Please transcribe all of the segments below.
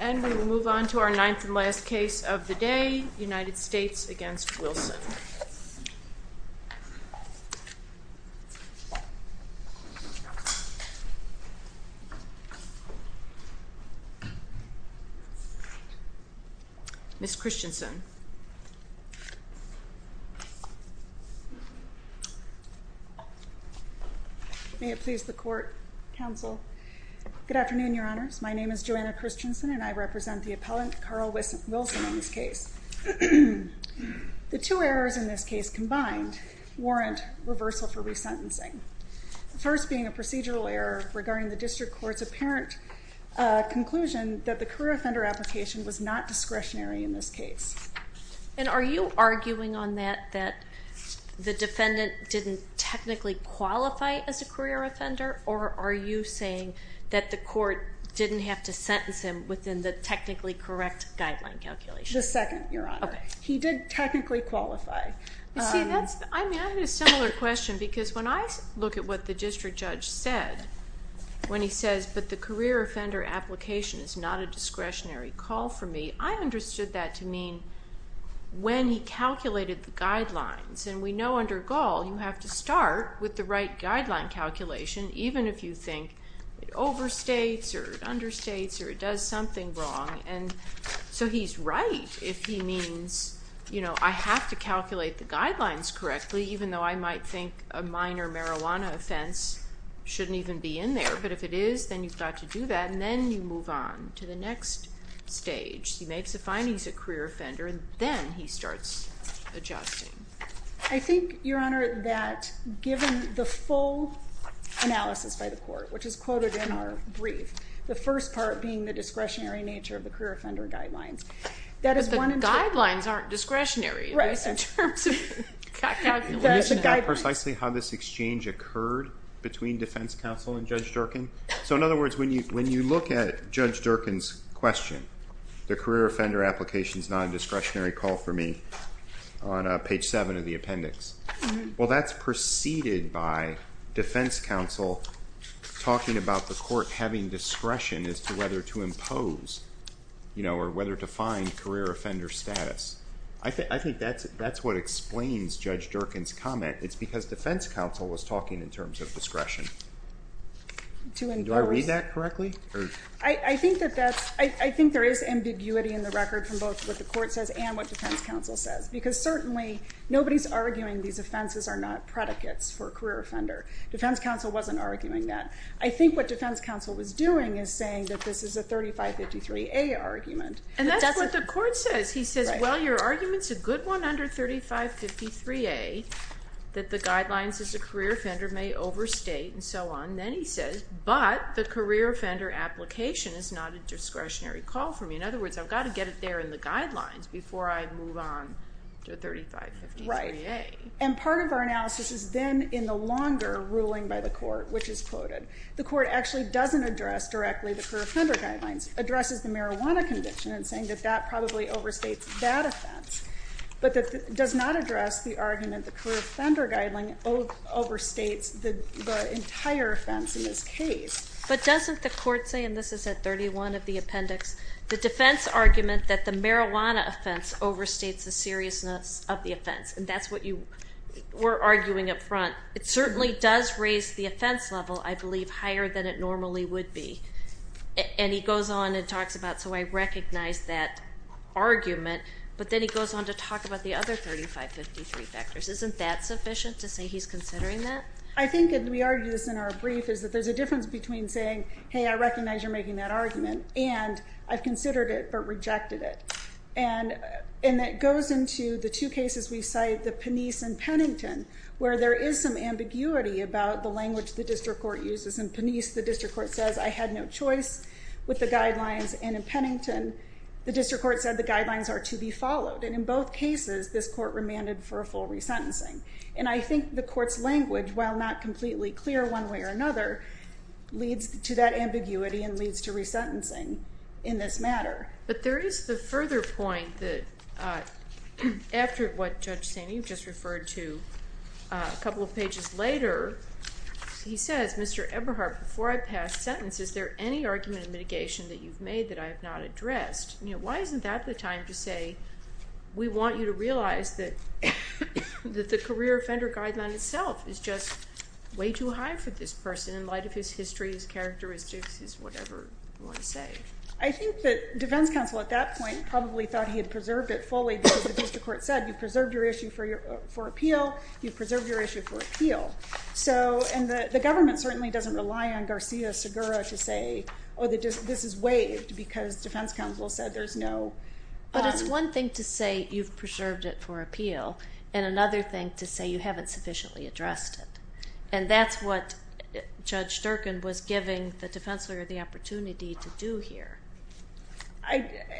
And we will move on to our ninth and last case of the day, United States v. Wilson. Ms. Christensen. May it please the court, counsel, good afternoon, your honors. My name is Joanna Christensen and I represent the appellant Carl Wilson in this case. The two errors in this case combined warrant reversal for resentencing. First being a procedural error regarding the district court's apparent conclusion that the career offender application was not discretionary in this case. And are you arguing on that that the defendant didn't technically qualify as a career offender or are you saying that the court didn't have to sentence him within the technically correct guideline calculation? The second, your honor. Okay. He did technically qualify. You see, that's, I mean, I had a similar question because when I look at what the district judge said when he says, but the career offender application is not a discretionary call for me, I understood that to mean when he calculated the guidelines. And we know under Gaul you have to start with the right guideline calculation even if you think it overstates or it understates or it does something wrong. And so he's right if he means, you know, I have to calculate the guidelines correctly even though I might think a minor marijuana offense shouldn't even be in there. But if it is, then you've got to do that and then you move on to the next stage. He makes a finding he's a career offender and then he starts adjusting. I think, your honor, that given the full analysis by the court, which is quoted in our brief, the first part being the discretionary nature of the career offender guidelines, that is one and two. But the guidelines aren't discretionary. Right. At least in terms of calculation. That's a guideline. And you should know precisely how this exchange occurred between defense counsel and Judge Durkin. So in other words, when you look at Judge Durkin's question, the career offender application is not a discretionary call for me, on page 7 of the appendix, well that's preceded by defense counsel talking about the court having discretion as to whether to impose, you know, or whether to find career offender status. I think that's what explains Judge Durkin's comment. It's because defense counsel was talking in terms of discretion. Do I read that correctly? I think that that's, I think there is ambiguity in the record from both what the court says and what defense counsel says. Because certainly nobody's arguing these offenses are not predicates for a career offender. Defense counsel wasn't arguing that. I think what defense counsel was doing is saying that this is a 3553A argument. And that's what the court says. He says, well, your argument's a good one under 3553A, that the guidelines as a career offender may overstate and so on. Then he says, but the career offender application is not a discretionary call for me. In other words, I've got to get it there in the guidelines before I move on to 3553A. And part of our analysis is then in the longer ruling by the court, which is quoted. The court actually doesn't address directly the career offender guidelines. Addresses the marijuana conviction and saying that that probably overstates that offense. But does not address the argument the career offender guideline overstates the entire offense in this case. But doesn't the court say, and this is at 31 of the appendix. The defense argument that the marijuana offense overstates the seriousness of the offense. And that's what you were arguing up front. It certainly does raise the offense level, I believe, higher than it normally would be. And he goes on and talks about, so I recognize that argument. But then he goes on to talk about the other 3553 factors. Isn't that sufficient to say he's considering that? I think, and we argue this in our brief, is that there's a difference between saying, hey, I recognize you're making that argument, and I've considered it, but rejected it. And that goes into the two cases we cite, the Penice and Pennington, where there is some ambiguity about the language the district court uses. In Penice, the district court says, I had no choice with the guidelines. And in Pennington, the district court said the guidelines are to be followed. And in both cases, this court remanded for a full resentencing. And I think the court's language, while not completely clear one way or another, leads to that ambiguity and leads to resentencing in this matter. But there is the further point that, after what Judge Sandy just referred to a couple of pages later. He says, Mr. Eberhardt, before I pass sentence, is there any argument of mitigation that you've made that I have not addressed? Why isn't that the time to say, we want you to realize that the career offender guideline itself is just way too high for this person in light of his history, his characteristics, his whatever you want to say? I think that defense counsel, at that point, probably thought he had preserved it fully. Because the district court said, you've preserved your issue for appeal. You've preserved your issue for appeal. And the government certainly doesn't rely on Garcia-Segura to say, oh, this is waived because defense counsel said there's no. But it's one thing to say, you've preserved it for appeal. And another thing to say, you haven't sufficiently addressed it. And that's what Judge Sturgeon was giving the defense lawyer the opportunity to do here.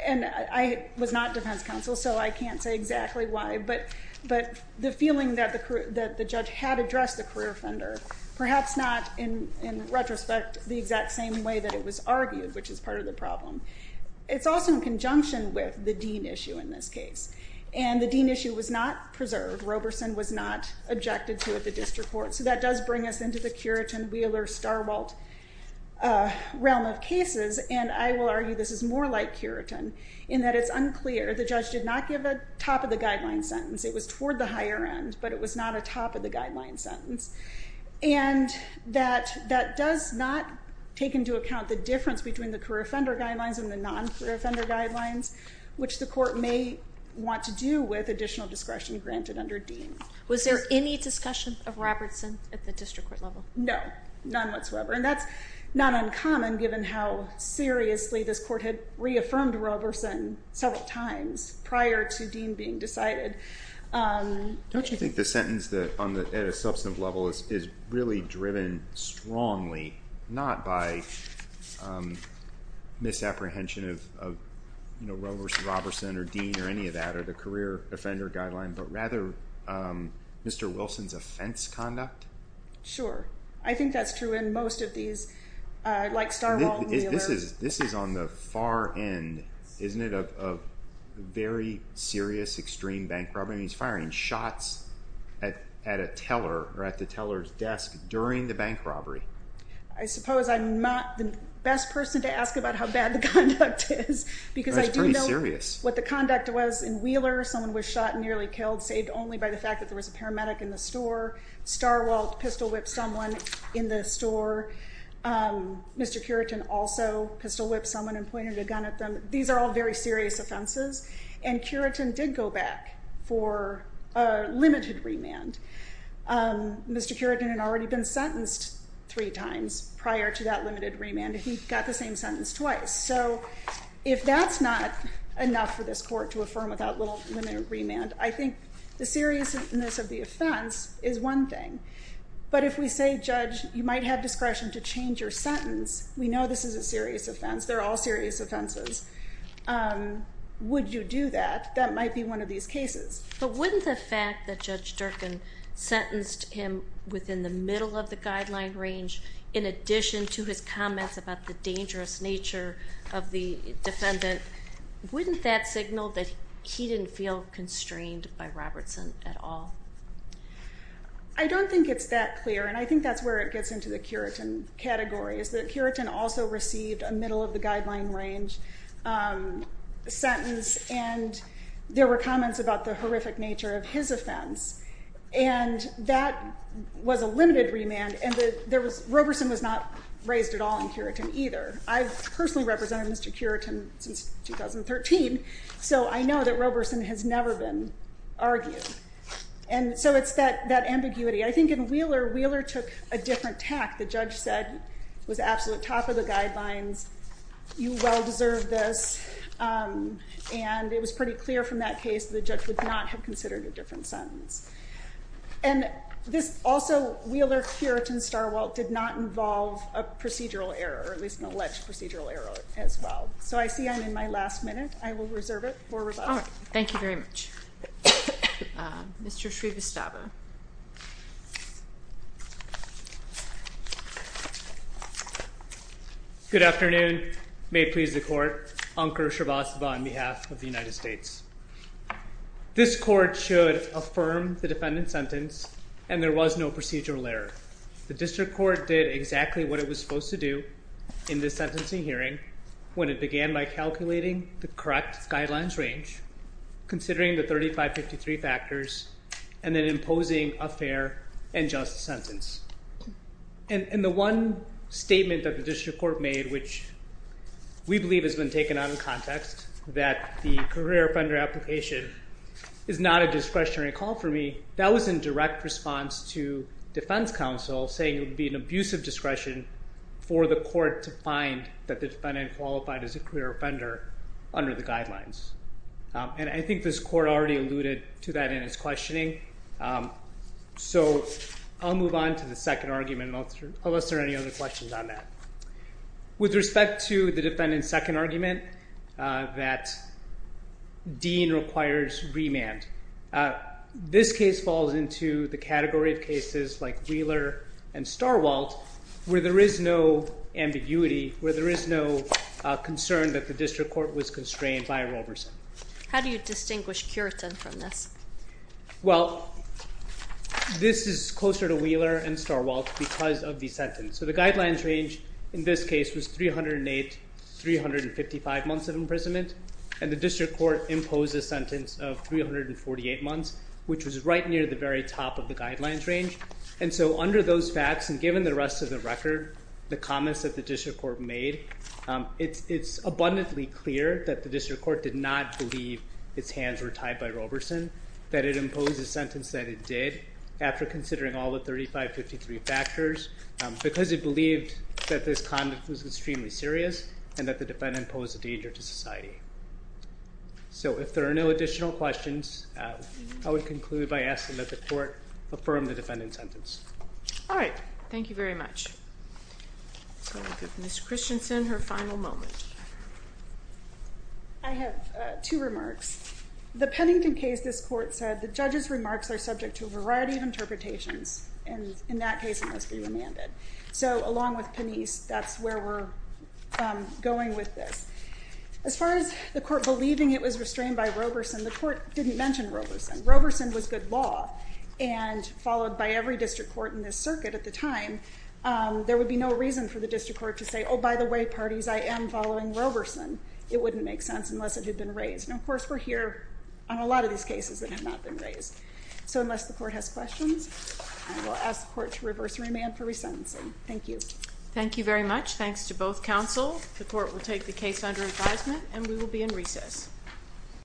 And I was not defense counsel, so I can't say exactly why. But the feeling that the judge had addressed the career offender, perhaps not, in retrospect, the exact same way that it was argued, which is part of the problem. It's also in conjunction with the Dean issue in this case. And the Dean issue was not preserved. Roberson was not objected to at the district court. So that does bring us into the Curitin, Wheeler, Starwalt realm of cases. And I will argue this is more like Curitin, in that it's unclear. The judge did not give a top of the guideline sentence. It was toward the higher end, but it was not a top of the guideline sentence. And that does not take into account the difference between the career offender guidelines and the non-career offender guidelines, which the court may want to do with additional discretion granted under Dean. Was there any discussion of Roberson at the district court level? No, none whatsoever. And that's not uncommon, given how seriously this court had affirmed Roberson several times prior to Dean being decided. Don't you think the sentence at a substantive level is really driven strongly not by misapprehension of Roberson or Dean or any of that, or the career offender guideline, but rather Mr. Wilson's offense conduct? Sure. I think that's true in most of these, like Starwalt and Wheeler. This is on the far end, isn't it, of very serious extreme bank robbery? I mean, he's firing shots at a teller or at the teller's desk during the bank robbery. I suppose I'm not the best person to ask about how bad the conduct is, because I do know what the conduct was in Wheeler. Someone was shot and nearly killed, saved only by the fact that there was a paramedic in the store. Starwalt pistol whipped someone in the store. Mr. Curitin also pistol whipped someone and pointed a gun at them. These are all very serious offenses. And Curitin did go back for a limited remand. Mr. Curitin had already been sentenced three times prior to that limited remand, and he got the same sentence twice. So if that's not enough for this court to affirm without little limited remand, I think the seriousness of the offense is one thing. But if we say, Judge, you might have discretion to change your sentence, we know this is a serious offense. They're all serious offenses. Would you do that? That might be one of these cases. But wouldn't the fact that Judge Durkin sentenced him within the middle of the guideline range, in addition to his comments about the dangerous nature of the defendant, wouldn't that signal that he didn't feel constrained by Robertson at all? I don't think it's that clear. And I think that's where it gets into the Curitin category, is that Curitin also received a middle of the guideline range sentence. And there were comments about the horrific nature of his offense. And that was a limited remand. And Robertson was not raised at all in Curitin either. I've personally represented Mr. Curitin since 2013. So I know that Robertson has never been argued. And so it's that ambiguity. I think in Wheeler, Wheeler took a different tack. The judge said it was absolute top of the guidelines. You well deserve this. And it was pretty clear from that case that the judge would not have considered a different sentence. And also, Wheeler, Curitin, Starwalt did not involve a procedural error, or at least an alleged procedural error as well. So I see I'm in my last minute. I will reserve it for rebuttal. Thank you very much. Mr. Srivastava. Good afternoon. May it please the court. Ankur Srivastava on behalf of the United States. This court should affirm the defendant's sentence, and there was no procedural error. The district court did exactly what it was supposed to do in this sentencing hearing when it began by calculating the correct guidelines range, considering the 3553 factors, and then imposing a fair and just sentence. And the one statement that the district court made, which we believe has been taken out of context, that the career offender application is not a discretionary call for me, that was in direct response to defense counsel saying it would be an abusive discretion for the court to find that the defendant qualified as a career offender under the guidelines. And I think this court already alluded to that in its questioning. So I'll move on to the second argument unless there are any other questions on that. With respect to the defendant's second argument that Dean requires remand, this case falls into the category of cases like Wheeler and Starwalt where there is no ambiguity, where there is no concern that the district court was constrained by Roberson. How do you distinguish Curitin from this? Well, this is closer to Wheeler and Starwalt because of the sentence. So the guidelines range in this case was 308, 355 months of imprisonment, and the district court imposed a sentence of 348 months, which was right near the very top of the guidelines range. And so under those facts, and given the rest of the record, the comments that the district court made, it's abundantly clear that the district court did not believe its hands were tied by Roberson, that it imposed a sentence that it did after considering all the 3553 factors because it believed that this conduct was extremely serious and that the defendant posed a danger to society. So if there are no additional questions, I would conclude by asking that the court affirm the defendant's sentence. All right. Thank you very much. So I'll give Ms. Christensen her final moment. I have two remarks. The Pennington case, this court said, the judge's remarks are subject to a variety of interpretations. And in that case, it must be remanded. So along with Penice, that's where we're going with this. As far as the court believing it was restrained by Roberson, the court didn't mention Roberson. Roberson was good law. And followed by every district court in this circuit at the time, there would be no reason for the district court to say, oh, by the way, parties, I am following Roberson. It wouldn't make sense unless it had been raised. And of course, we're here on a lot of these cases that have not been raised. So unless the court has questions, I will ask the court to reverse remand for resentencing. Thank you. Thank you very much. Thanks to both counsel. The court will take the case under advisement. And we will be in recess.